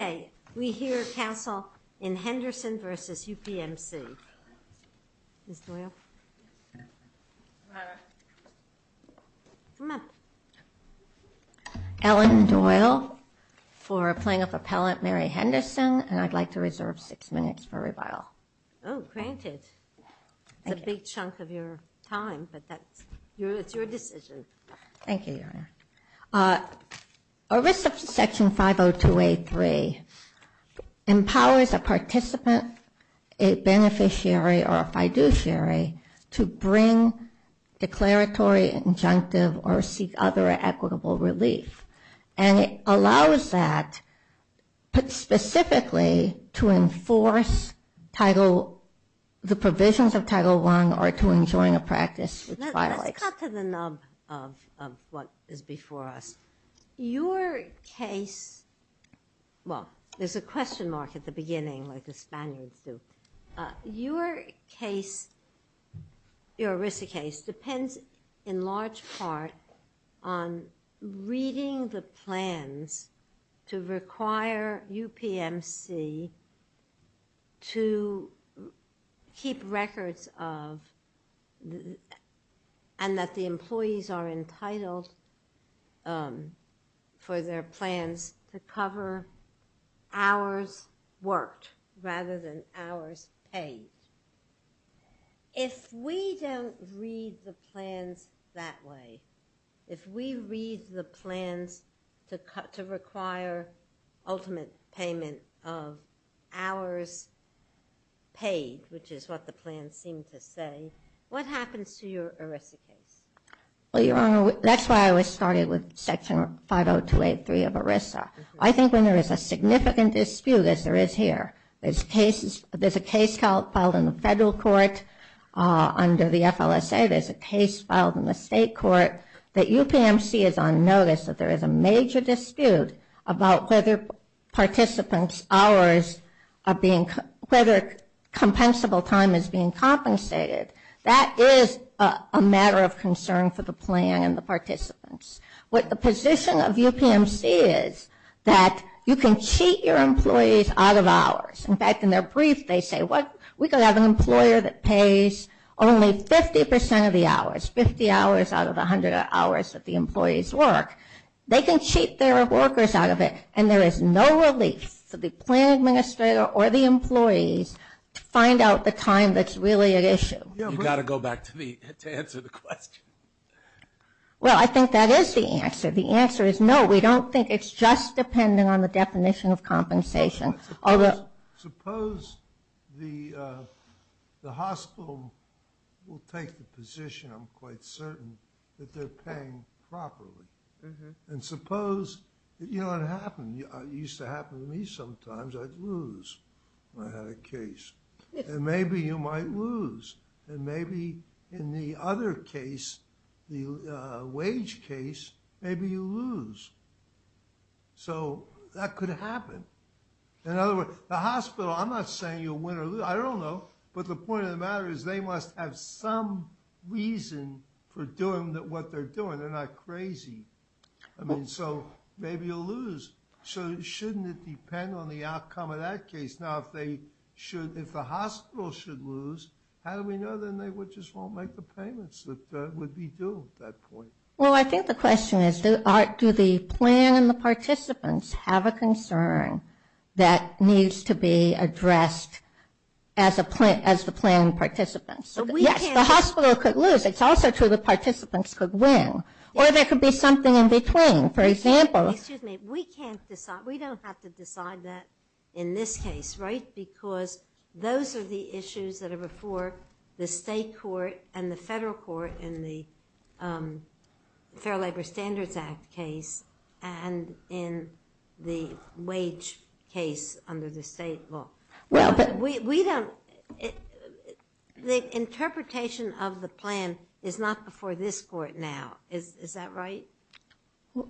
Okay, we hear counsel in Henderson versus UPMC, Ms. Doyle, Ellen Doyle for plaintiff appellant Mary Henderson and I'd like to reserve six minutes for rebuttal. Oh granted, it's a big chunk of your time but that's your it's your decision. Thank empowers a participant, a beneficiary or a fiduciary to bring declaratory injunctive or seek other equitable relief and it allows that but specifically to enforce title the provisions of title one or to enjoin a there's a question mark at the beginning like the Spaniards do. Your case, your RISA case depends in large part on reading the plans to require UPMC to keep records of and that the employees are entitled for their plans to cover hours worked rather than hours paid. If we don't read the plans that way, if we read the plans to cut to require ultimate payment of hours paid which is what the plans seem to say, what happens to your RISA case? Well your honor that's why I always started with section 50283 of RISA. I think when there is a significant dispute as there is here, there's cases there's a case filed in the federal court under the FLSA, there's a case filed in the state court that UPMC is on notice that there is a major dispute about whether participants hours are being whether compensable time is being compensated. That is a matter of concern for the plan and the participants. What the position of UPMC is that you can cheat your employees out of hours. In fact in their brief they say what we could have an employer that pays only 50% of the hours, 50 hours out of 100 hours that the employees work. They can cheat their workers out of it and there is no relief for the plan administrator or the employees to find out the time that's really an issue. Well I think that is the answer. The it's just depending on the definition of compensation. Suppose the hospital will take the position I'm quite certain that they're paying properly and suppose you know what happened used to happen to me sometimes I'd lose I had a case and maybe you might lose and maybe in the other case the wage case maybe you lose so that could happen in other words the hospital I'm not saying you'll win or lose I don't know but the point of the matter is they must have some reason for doing that what they're doing they're not crazy I mean so maybe you'll lose so shouldn't it depend on the outcome of that case now if they should if the hospital should lose how do we know then they would just won't make the payments that would be due at that point. Well I think the question is do the plan and the participants have a concern that needs to be addressed as a plan as the plan participants so yes the hospital could lose it's also true the participants could win or there could be something in between for example we can't decide we don't have to decide that in this case right because those are the issues that before the state court and the federal court in the Fair Labor Standards Act case and in the wage case under the state law well but we don't the interpretation of the plan is not before this court now is that right?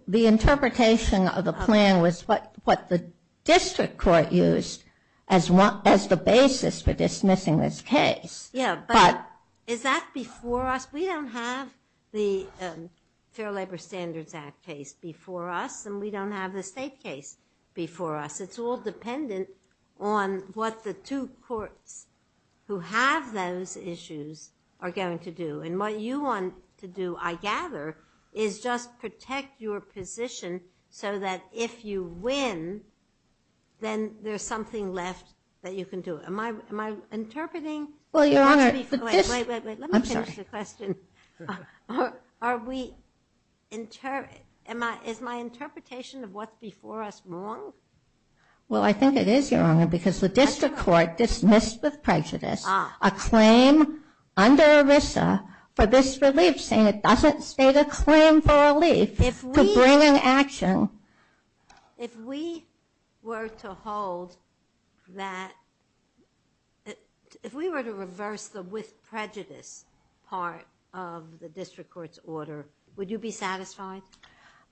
The interpretation of the plan was what what the district court used as one as the case. Yeah but is that before us we don't have the Fair Labor Standards Act case before us and we don't have the state case before us it's all dependent on what the two courts who have those issues are going to do and what you want to do I gather is just protect your position so that if you win then there's something left that you can do it am I interpreting well your honor I'm sorry the question are we in turn am I is my interpretation of what's before us wrong well I think it is your honor because the district court dismissed with prejudice a claim under ERISA for this relief saying it doesn't state a claim for relief to bring an action if we were to hold that if we were to reverse the with prejudice part of the district court's order would you be satisfied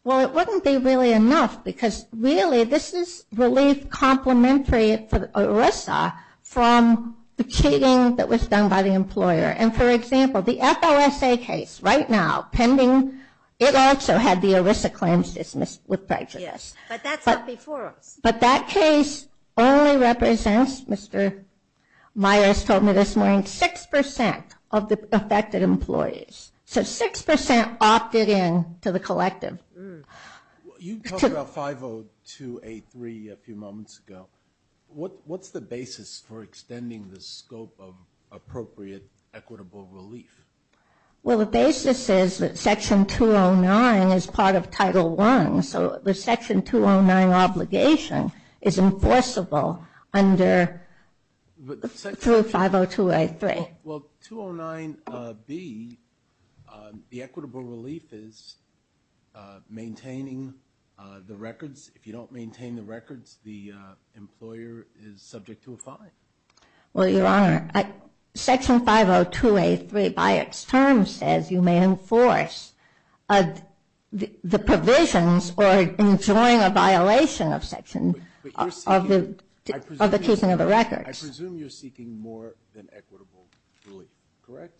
well it wouldn't be really enough because really this is relief complimentary for ERISA from the cheating that was done by the employer and for example the FOSA case right now pending it also had the ERISA claims dismissed with prejudice but that case only represents Mr. Myers told me this morning six percent of the affected employees so six percent opted in to the collective you talked about 50283 a few moments ago what what's the basis for well the basis is that section 209 is part of title one so the section 209 obligation is enforceable under 50283 well 209 B the equitable relief is maintaining the records if you don't maintain the records the employer is 50283 by its term says you may enforce the provisions or enjoying a violation of section of the keeping of the records I presume you're seeking more than equitable relief correct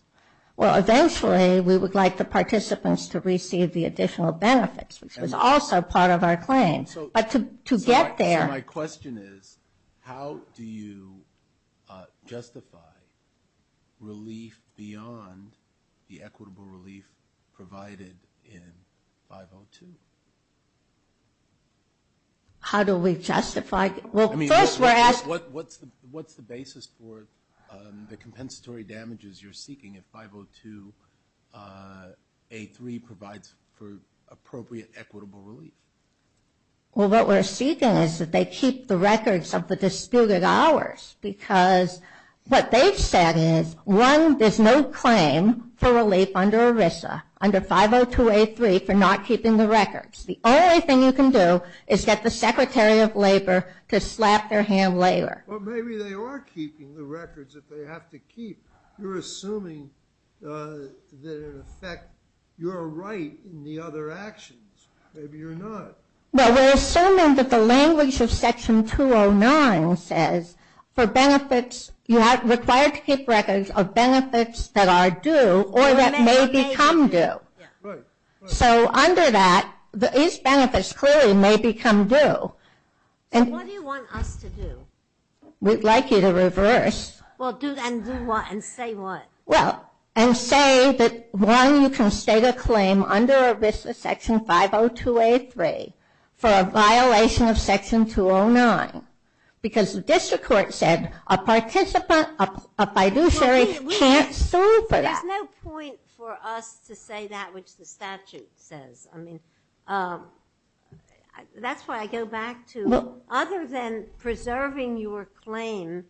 well eventually we would like the participants to receive the additional benefits which was also part of our claims but to get there my question is how do you justify relief beyond the equitable relief provided in 502 how do we justify well first we're asked what what's the what's the basis for the compensatory damages you're seeking if 50283 provides for they keep the records of the disputed hours because what they said is one there's no claim for relief under ERISA under 50283 for not keeping the records the only thing you can do is get the Secretary of Labor to slap their hand later maybe they are keeping the records if they have to keep you're assuming that in effect you're right in the other actions maybe you're not well we're assuming that the language of section 209 says for benefits you have required to keep records of benefits that are due or that may become do so under that the benefits clearly may become do and what do you want us to do we'd like you to reverse well do that and do what and say what well and say that one you can state a claim under ERISA section 50283 for a violation of section 209 because the district court said a participant a fiduciary can't sue for that there's no point for us to say that which the statute says I mean that's why I go back to other than preserving your claim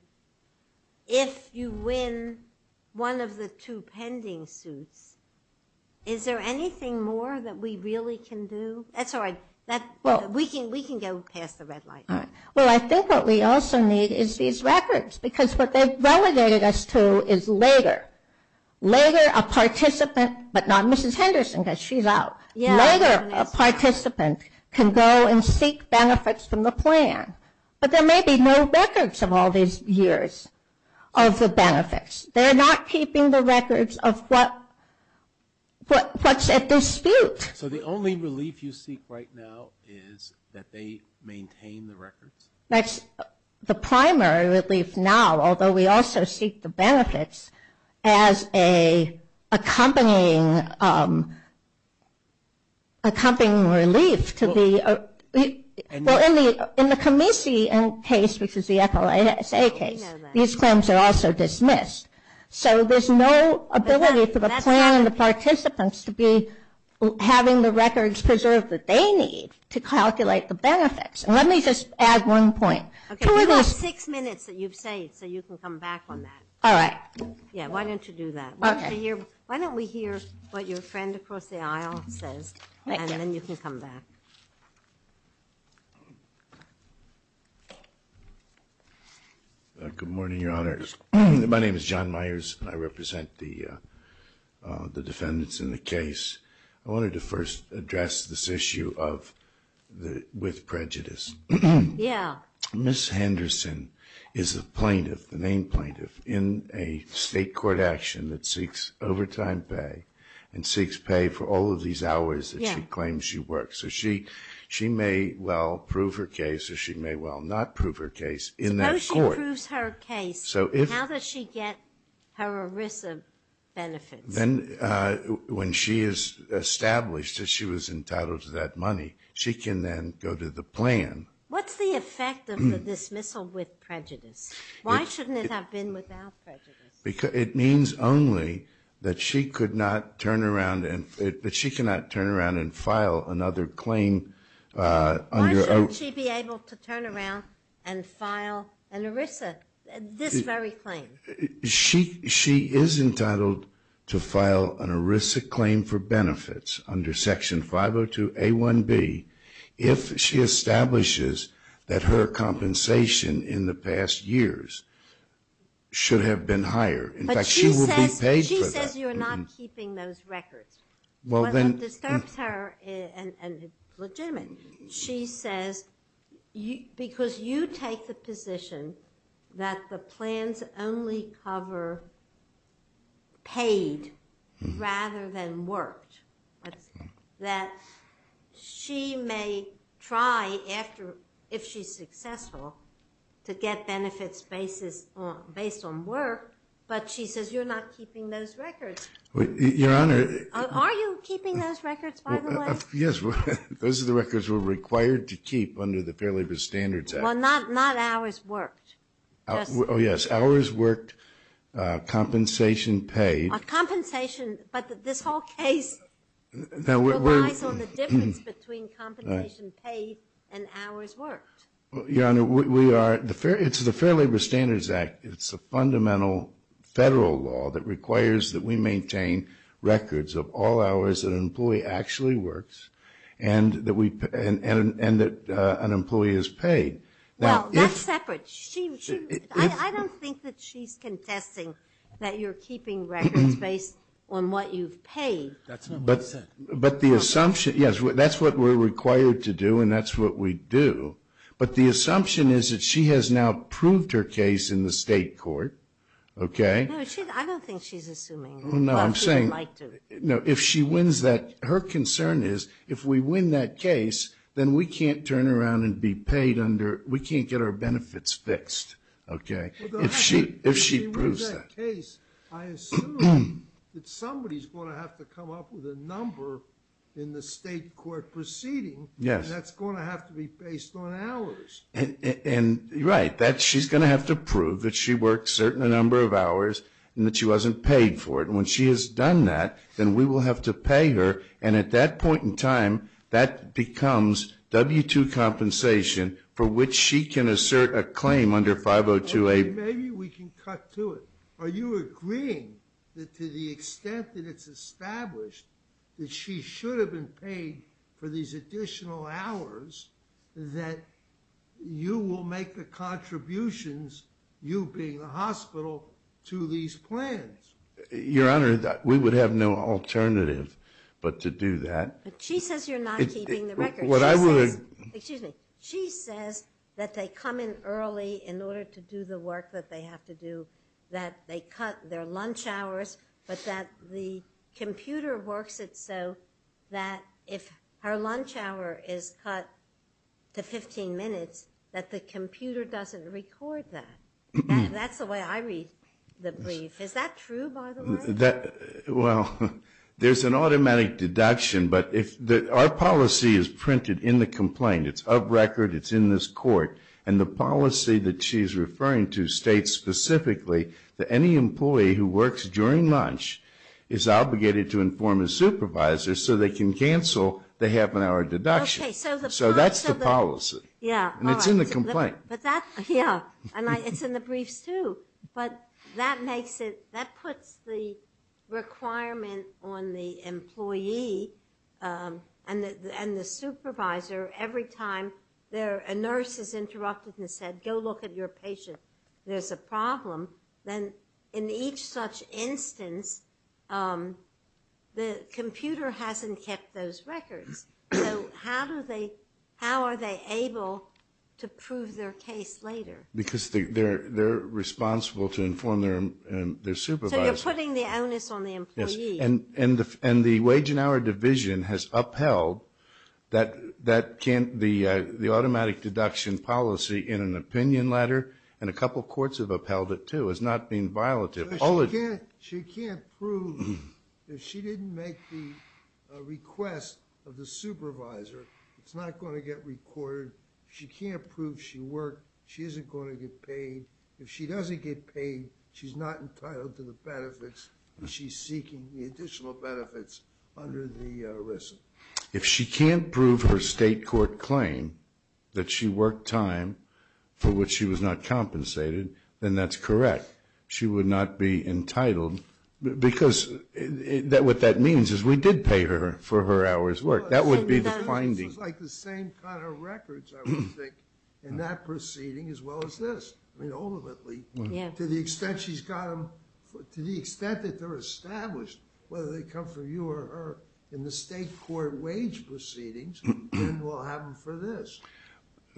if you win one of the two pending suits is there anything more that we really can do that's all right that well we can we can go past the red light all right well I think what we also need is these participant but not mrs. Henderson cuz she's out yeah later a participant can go and seek benefits from the plan but there may be no records of all these years of the benefits they're not keeping the records of what what what's at dispute so the only relief you seek right now is that they maintain the records that's the primary relief now although we also seek the benefits as a accompanying accompanying relief to be in the in the commission case which is the FLSA case these claims are also dismissed so there's no ability for the plan and the participants to be having the records preserved that they need to calculate the benefits let me just add one point six minutes that you've saved so you can come back on that all right yeah why don't you do that okay here why don't we hear what your friend across the aisle says and then you can come back good morning your honor my name is John Myers I represent the the defendants in the case I wanted to first address this issue of the with prejudice yeah miss Henderson is a plaintiff the main plaintiff in a state court action that seeks overtime pay and seeks pay for all of these hours that she claims you work so she she may well prove her case or she may well not prove her case in that she proves her case so if how does she get her Arisa benefits then when she is established as she was entitled to that money she can then go to the plan what's the effect of the dismissal with prejudice why shouldn't it have been without prejudice because it means only that she could not turn around and fit but she cannot turn around and file another claim she be able to turn around and file an Arisa this very claim she she is entitled to establishes that her compensation in the past years should have been higher in fact she will be paid she says you're not keeping those records well then disturbs her and legitimate she says you because you take the position that the after if she's successful to get benefits basis based on work but she says you're not keeping those records your honor yes those are the records were required to keep under the Fair Labor Standards well not not hours worked oh yes hours worked compensation paid a compensation but this whole case your honor we are the fair it's the Fair Labor Standards Act it's a fundamental federal law that requires that we maintain records of all hours that an employee actually works and that we and that an employee is paid that's separate I don't think that she's confessing that you're keeping records based on what you've paid but but the assumption yes well that's what we're required to do and that's what we do but the assumption is that she has now proved her case in the state court okay I don't think she's assuming no I'm saying no if she wins that her concern is if we win that case then we can't turn around and be paid under we can't get our benefits fixed okay if she if she proves somebody's going to have to come up with a number in the state court proceeding yes that's going to have to be based on hours and right that she's going to have to prove that she worked certain a number of hours and that she wasn't paid for it when she has done that then we will have to pay her and at that point in time that becomes w-2 compensation for which she can assert a claim under 502 a maybe we can cut to it are you agreeing that to the extent that it's established that she should have been paid for these additional hours that you will make the contributions you being the hospital to these plans your honor that we would have no alternative but to do that she says you're not keeping the record what I would excuse me she says that they come in early in order to do the work that they have to do that they cut their lunch hours but that the computer works it so that if her lunch hour is cut to 15 minutes that the computer doesn't record that that's the way I read the brief is that true by the way that well there's an automatic deduction but if that our policy is printed in the complaint it's of record it's in this court and the policy that she's states specifically that any employee who works during lunch is obligated to inform a supervisor so they can cancel they have an hour deduction so that's the policy yeah and it's in the complaint but that yeah and it's in the briefs too but that makes it that puts the requirement on the employee and the and the supervisor every time there a nurse is interrupted and said go look at your patient there's a problem then in each such instance the computer hasn't kept those records so how do they how are they able to prove their case later because they're they're responsible to inform their supervisor putting the onus on the employee and and the and the wage and hour division has upheld that that can't the the automatic deduction policy in an opinion letter and a couple courts have upheld it too is not being violative all again she can't prove if she didn't make the request of the supervisor it's not going to get recorded she can't prove she worked she isn't going to get paid if she doesn't get paid she's not entitled to the benefits she's seeking the additional state court claim that she worked time for which she was not compensated then that's correct she would not be entitled because that what that means is we did pay her for her hours work that would be the findings like the same kind of records in that proceeding as well as this I mean ultimately yeah to the extent she's got them to the extent that they're established whether they come in the state court wage proceedings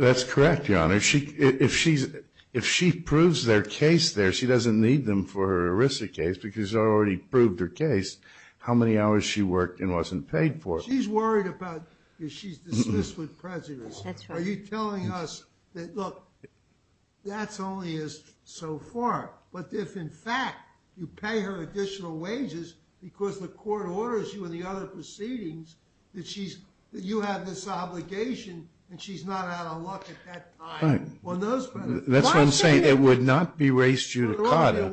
that's correct your honor she if she's if she proves their case there she doesn't need them for a risk a case because I already proved her case how many hours she worked and wasn't paid for she's worried about that's only is so far but if in fact you pay her additional wages because the court orders you in the other proceedings that she's you have this obligation and she's not that's what I'm saying it would not be race judicata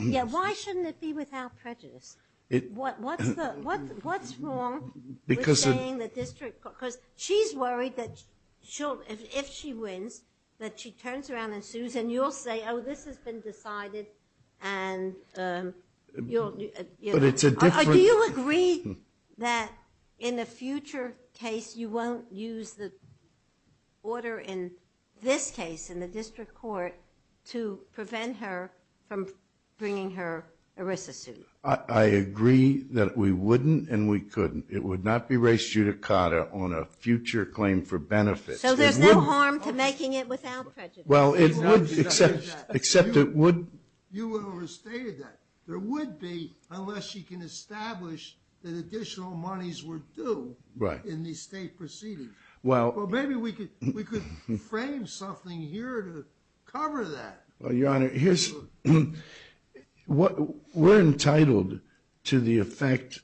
yeah why shouldn't it be without prejudice because she's worried that she'll if she wins that she turns around and sues and you'll say oh this has been decided and you'll agree that in a future case you won't use the order in this case in the district court to prevent her from bringing her a wristless suit I agree that we wouldn't and we couldn't it would not be race judicata on a future claim for benefits so there's no harm to making it without well except except it would well your honor here's what we're entitled to the effect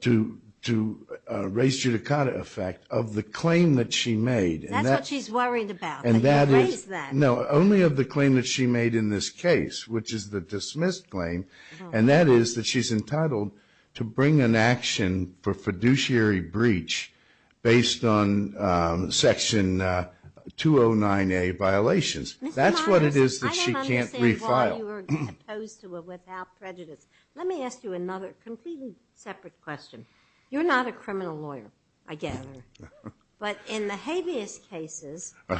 to to race judicata effect of the claim that she made and that she's that no only of the claim that she made in this case which is the dismissed claim and that is that she's entitled to bring an action for fiduciary breach based on section 209 a violations that's what it is that she can't let me ask you another question you're not a criminal lawyer again but in the habeas cases I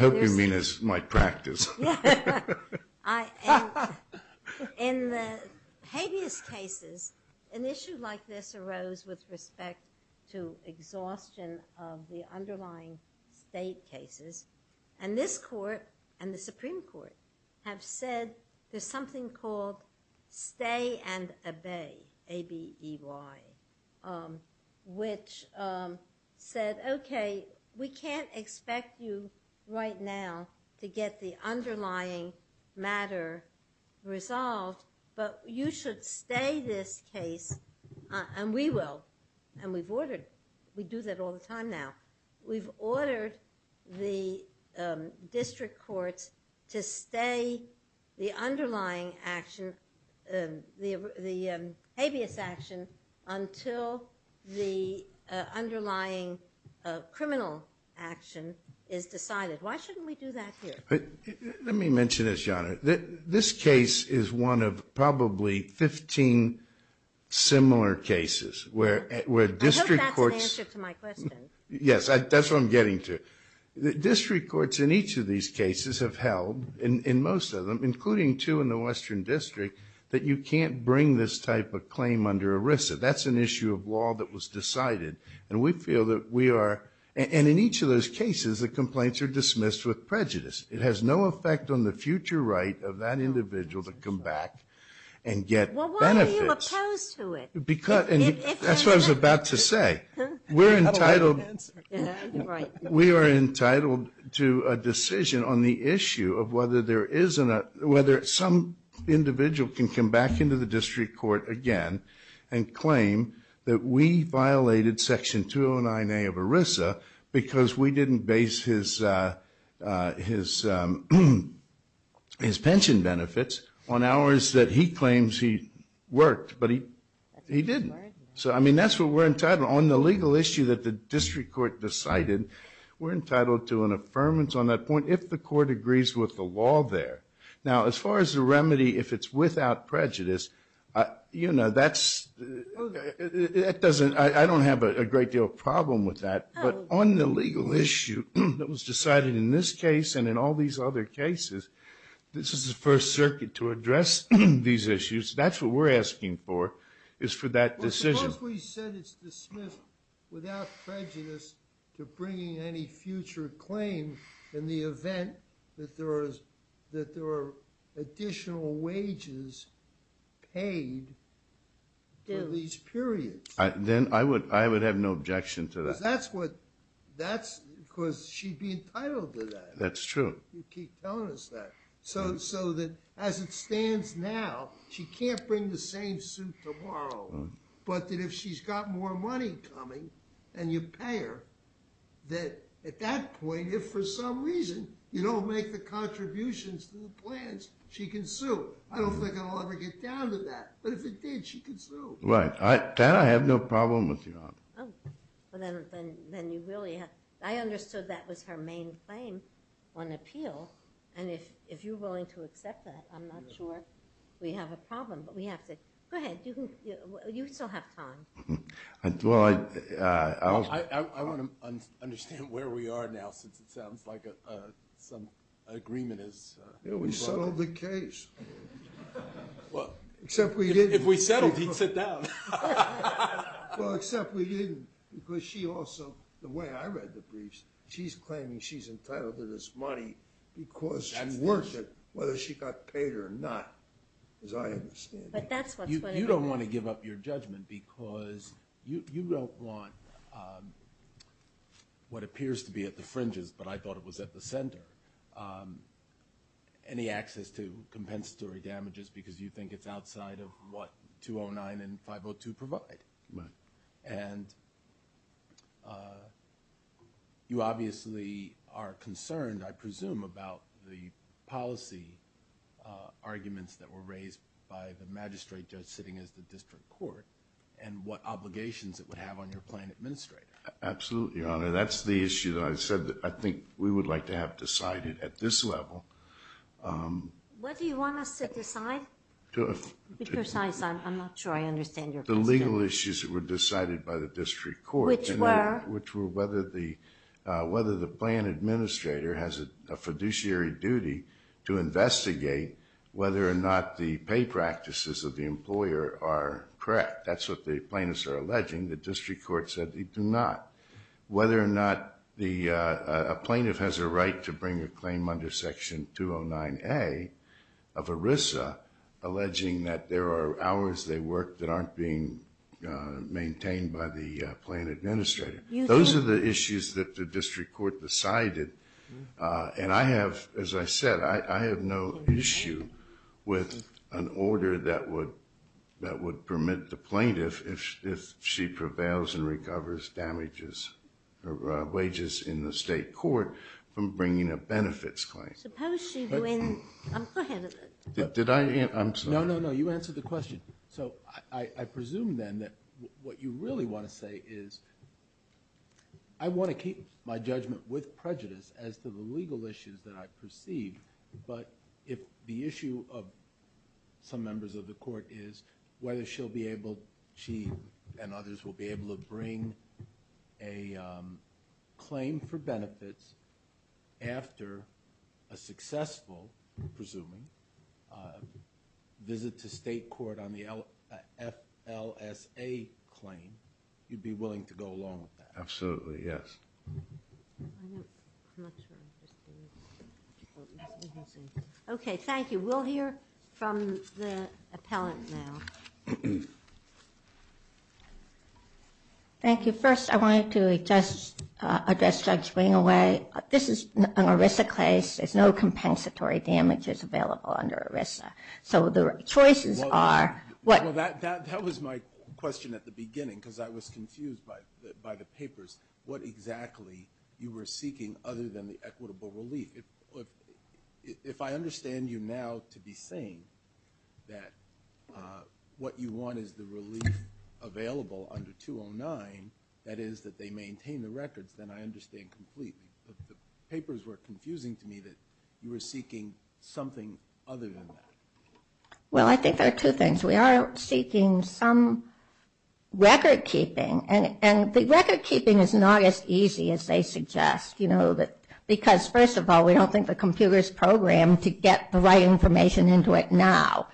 in the habeas cases an issue like this arose with respect to exhaustion of the underlying state cases and this court and the Supreme Court have said there's something called stay and obey a b e y which said okay we can't expect you right now to get the underlying matter resolved but you should stay this case and we will and we've ordered we do that all the time now we've ordered the district courts to stay the underlying action the the habeas action until the let me mention this your honor that this case is one of probably 15 similar cases where where district courts yes that's what I'm getting to the district courts in each of these cases have held in most of them including two in the Western District that you can't bring this type of claim under ERISA that's an issue of law that was decided and we feel that we are and in each of those cases the dismissed with prejudice it has no effect on the future right of that individual to come back and get benefits because and that's what I was about to say we're entitled we are entitled to a decision on the issue of whether there isn't a whether some individual can come back into the district court again and his his pension benefits on hours that he claims he worked but he he didn't so I mean that's what we're entitled on the legal issue that the district court decided we're entitled to an affirmance on that point if the court agrees with the law there now as far as the remedy if it's without prejudice you know that's that doesn't I don't have a great deal of problem with that but on the legal issue that was decided in this case and in all these other cases this is the First Circuit to address these issues that's what we're asking for is for that decision without prejudice to bringing any future claim in the event that there is that there are additional wages paid in these periods I then I would I would have no objection to that that's what that's because she'd be entitled to that that's true so so that as it stands now she can't bring the same suit tomorrow but that if she's got more money coming and you pay her that at that point if for some reason you don't make the contributions to the plans she can sue I have no problem with you I understood that was her main claim on appeal and if if you're willing to accept that I'm not sure we have a problem but we have to go ahead you still have time I want to understand where we are now since it except we didn't because she also the way I read the briefs she's claiming she's entitled to this money because and worship whether she got paid or not as I understand you don't want to give up your judgment because you don't want what appears to be at the fringes but I thought it was at the center any access to compensatory damages because you think it's outside of what 209 and 502 provide and you obviously are concerned I presume about the policy arguments that were raised by the magistrate judge sitting as the district court and what obligations that would have on your plan administrator absolutely your honor that's the issue that I said that I think we would like to have decided at this level what do you want us to decide the legal issues that were decided by the district court which were which were whether the whether the plan administrator has a fiduciary duty to investigate whether or not the pay practices of the employer are correct that's what the plaintiffs are alleging the district court said they do not whether or not the plaintiff has a right to bring a claim under section 209 a of ERISA alleging that there are hours they work that aren't being maintained by the plan administrator those are the issues that the district court decided and I have as I said I have no issue with an order that would that would permit the plaintiff if she prevails and a benefits claim did I know you answer the question so I presume then that what you really want to say is I want to keep my judgment with prejudice as to the legal issues that I perceive but if the issue of some members of the court is whether she'll be able she and others will be able to bring a claim for after a successful presuming visit to state court on the LF LSA claim you'd be willing to go along with that absolutely yes okay thank you we'll hear from the appellant now thank you first I wanted to attest address judge swing away this is an ERISA case there's no compensatory damages available under ERISA so the choices are what that was my question at the beginning because I was confused by by the papers what exactly you were seeking other than the equitable relief if if I understand you now to be saying that what you want is the relief available under 209 that is that they maintain the records then I understand papers were confusing to me that you were seeking something other than that well I think there are two things we are seeking some record-keeping and and the record-keeping is not as easy as they suggest you know that because first of all we don't think the computers program to get the right information into it now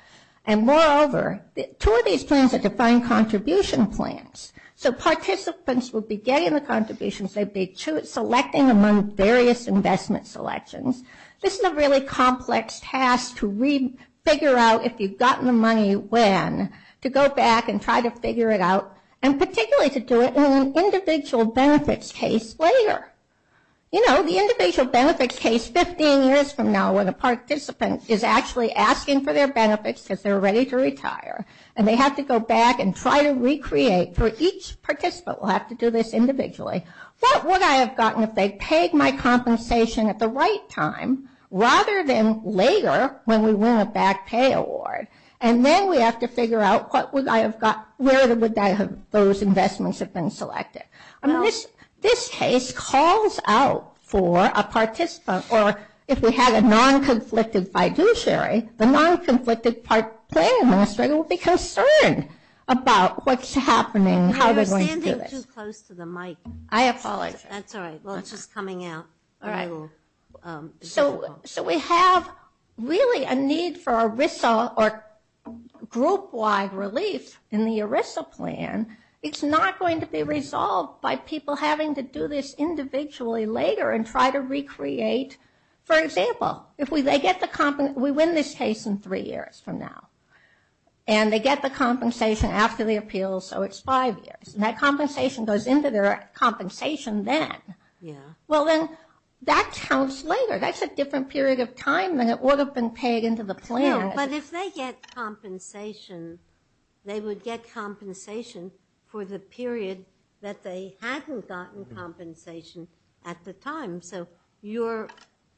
and moreover two of these plans are defined contribution plans so participants will be getting the contributions they'd be selecting among various investment selections this is a really complex task to read figure out if you've gotten the money when to go back and try to figure it out and particularly to do it in an individual benefits case later you know the individual benefits case 15 years from now when a participant is actually asking for their benefits because they're ready to retire and they have to go back and try to recreate for each participant will have to do this individually what would I have gotten if they paid my compensation at the right time rather than later when we win a back pay award and then we have to figure out what would I have got where the would that have those investments have been selected I mean this this case calls out for a participant or if we had a non-conflicted fiduciary the non-conflicted part plan administrator you will be concerned about what's happening how they're going to do this. You're standing too close to the mic. I apologize. That's all right well it's just coming out all right so so we have really a need for ERISA or group-wide relief in the ERISA plan it's not going to be resolved by people having to do this individually later and try to recreate for example if we they get the company we win this case in now and they get the compensation after the appeal so it's five years and that compensation goes into their compensation then yeah well then that counts later that's a different period of time than it would have been paid into the plan. But if they get compensation they would get compensation for the period that they hadn't gotten compensation at the time so your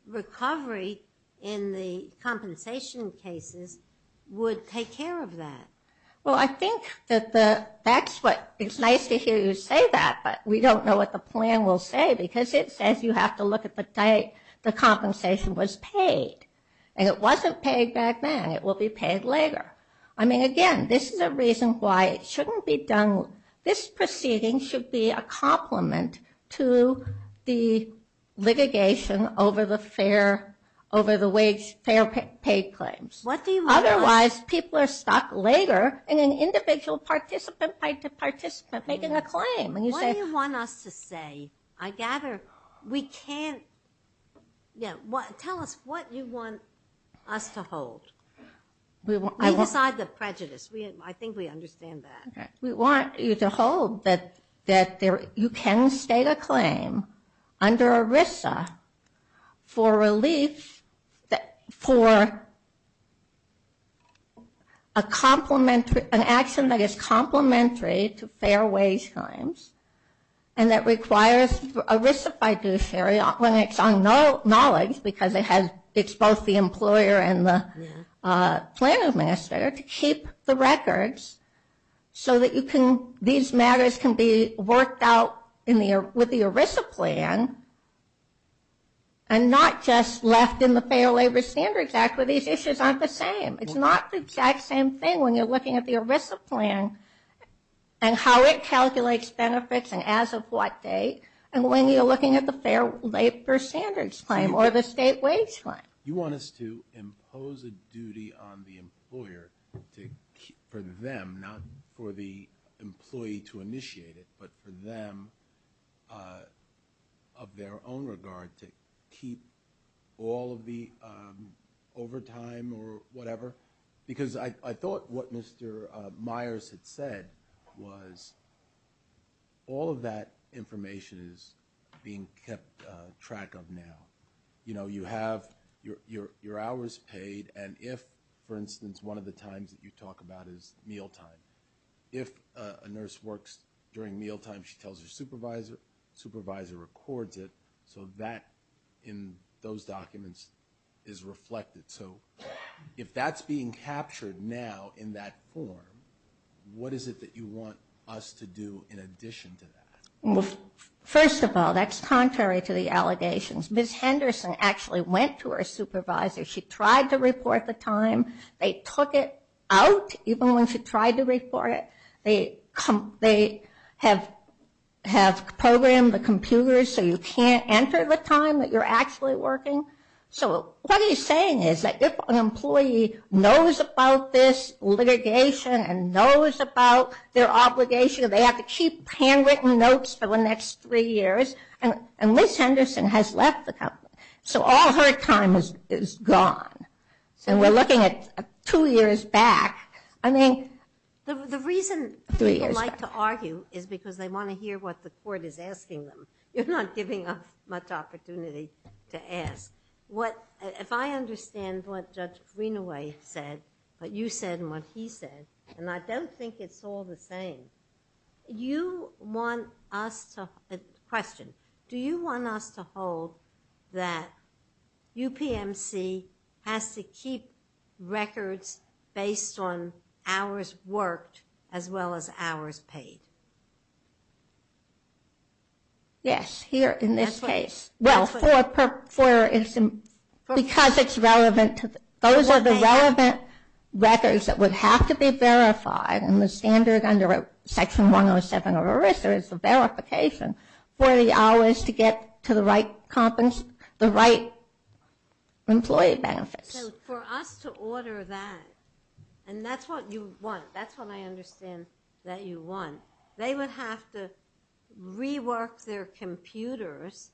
recovery in the compensation cases would take care of that. Well I think that the that's what it's nice to hear you say that but we don't know what the plan will say because it says you have to look at the date the compensation was paid and it wasn't paid back then it will be paid later I mean again this is a reason why it shouldn't be done this proceeding should be a complement to the litigation over the fair over the wage fair pay claims. Otherwise people are stuck later in an individual participant by the participant making a claim. What do you want us to say? I gather we can't yeah what tell us what you want us to hold. We decide the prejudice we I think we understand that. We want you to hold that that there you can state a claim under ERISA for relief that for a complementary an action that is complementary to fair wage claims and that requires ERISA fiduciary when it's on no knowledge because it has it's both the employer and the plan administrator to keep the records so that you can these matters can be worked out in the with the ERISA plan and not just left in the Fair Labor Standards Act where these issues aren't the same it's not the exact same thing when you're looking at the ERISA plan and how it calculates benefits and as of what day and when you're looking at the Fair Labor Standards claim or the state wage fine. You want us to impose a duty on the employer to keep for them not for the employee to initiate it but for them of their own regard to keep all of the overtime or whatever because I thought what Mr. Myers had said was all of that information is being kept track of now you know you have your hours paid and if for instance one of the times that you talk about is mealtime if a nurse works during mealtime she tells her supervisor supervisor records it so that in those documents is reflected so if that's being captured now in that form what is it that you want us to do in addition to that. Well first of all that's contrary to the allegations. Ms. Henderson actually went to her supervisor she tried to report the time they took it out even when she tried to report it they have programmed the computers so you can't enter the time that you're actually working so what he's saying is that if an employee knows about this litigation and knows about their obligation they have to keep handwritten notes for the next three years and and Ms. Henderson has left the company so all her time is gone and we're looking at two years back I mean the reason three years to argue is because they want to hear what the court is asking them you're not giving up much opportunity to ask what if I understand what Judge Greenaway said but you said what he said and I don't think it's all the same you want us to question do you want us to hold that UPMC has to keep records based on hours well for is because it's relevant those are the relevant records that would have to be verified and the standard under Section 107 of ERISA is the verification for the hours to get to the right company's the right employee benefits for us to order that and that's what you want that's what I understand they would have to rework their computers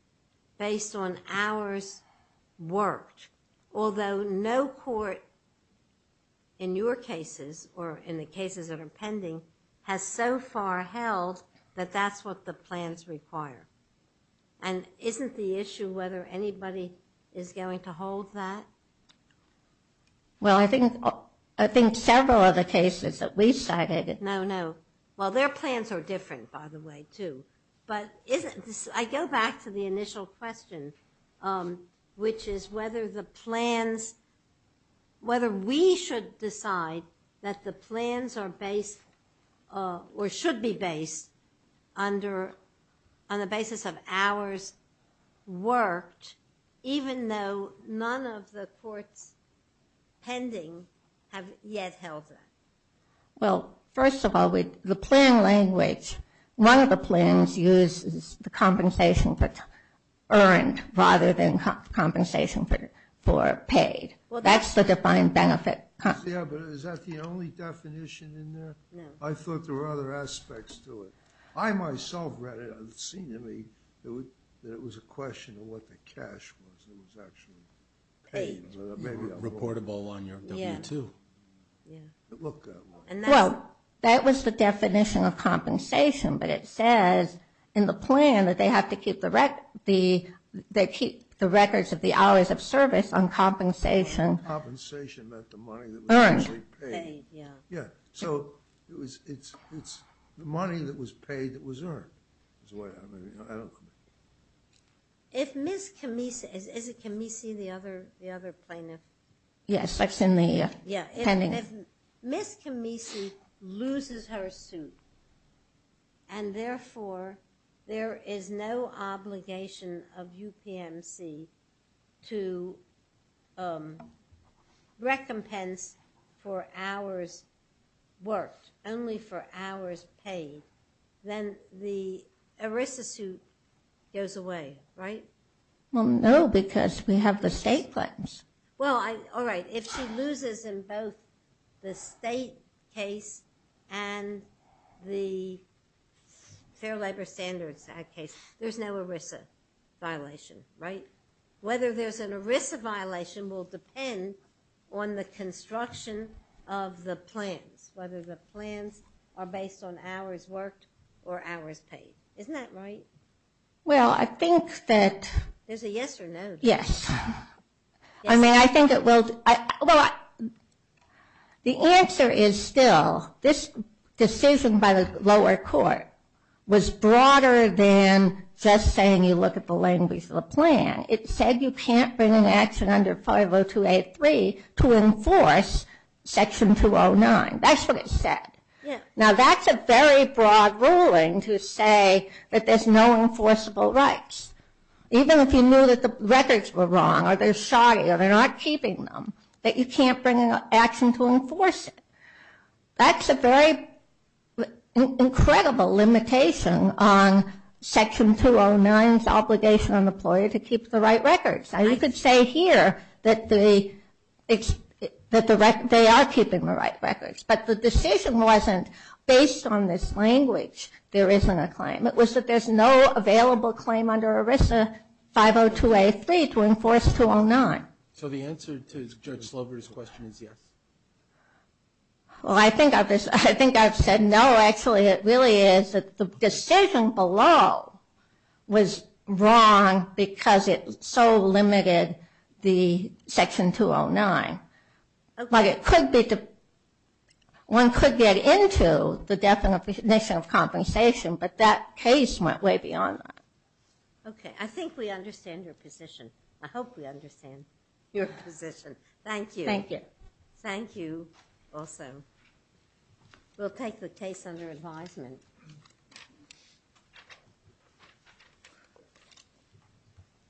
based on hours worked although no court in your cases or in the cases that are pending has so far held that that's what the plans require and isn't the issue whether anybody is going to well their plans are different by the way too but I go back to the initial question which is whether the plans whether we should decide that the plans are based or should be based under on the basis of hours worked even though none of the courts pending have yet held that well first of all with the plan language one of the plans uses the compensation but earned rather than compensation for paid well that's the defined benefit I thought there were other aspects to it I myself read it I've seen to me that it was a question of what the cash was it was actually paid reportable on your yeah to look and well that was the definition of compensation but it says in the plan that they have to keep the wreck the they keep the records of the hours of service on compensation yeah so it was it's it's the money that was paid that is why I don't if miss Camisa is it can we see the other the other plaintiff yes that's in the yeah I mean miss Camisa loses her suit and therefore there is no obligation of UPMC to the ERISA suit goes away right well no because we have the state plans well I all right if she loses in both the state case and the Fair Labor Standards Act case there's no ERISA violation right whether there's an ERISA violation will depend on the construction of the plans whether the plans are based on hours worked or hours paid isn't that right well I think that there's a yes or no yes I mean I think it will well the answer is still this decision by the lower court was broader than just saying you look at the language of the plan it said you can't bring an action under 50283 to enforce section 209 that's what it said yeah now that's a very broad ruling to say that there's no enforceable rights even if you knew that the records were wrong or they're shoddy or they're not keeping them that you can't bring an action to enforce it that's a very incredible limitation on section 209 obligation on the ploy to keep the right records I could say here that the it's that the record they are keeping the records but the decision wasn't based on this language there isn't a claim it was that there's no available claim under ERISA 50283 to enforce 209 so the answer to Judge Slover's question is yes well I think of this I think I've said no actually it really is that the decision below was wrong because it so limited the section 209 like it could be to one could get into the definition of compensation but that case went way beyond okay I think we understand your position I hope we understand your position thank you thank you thank you also we'll take the case under advisement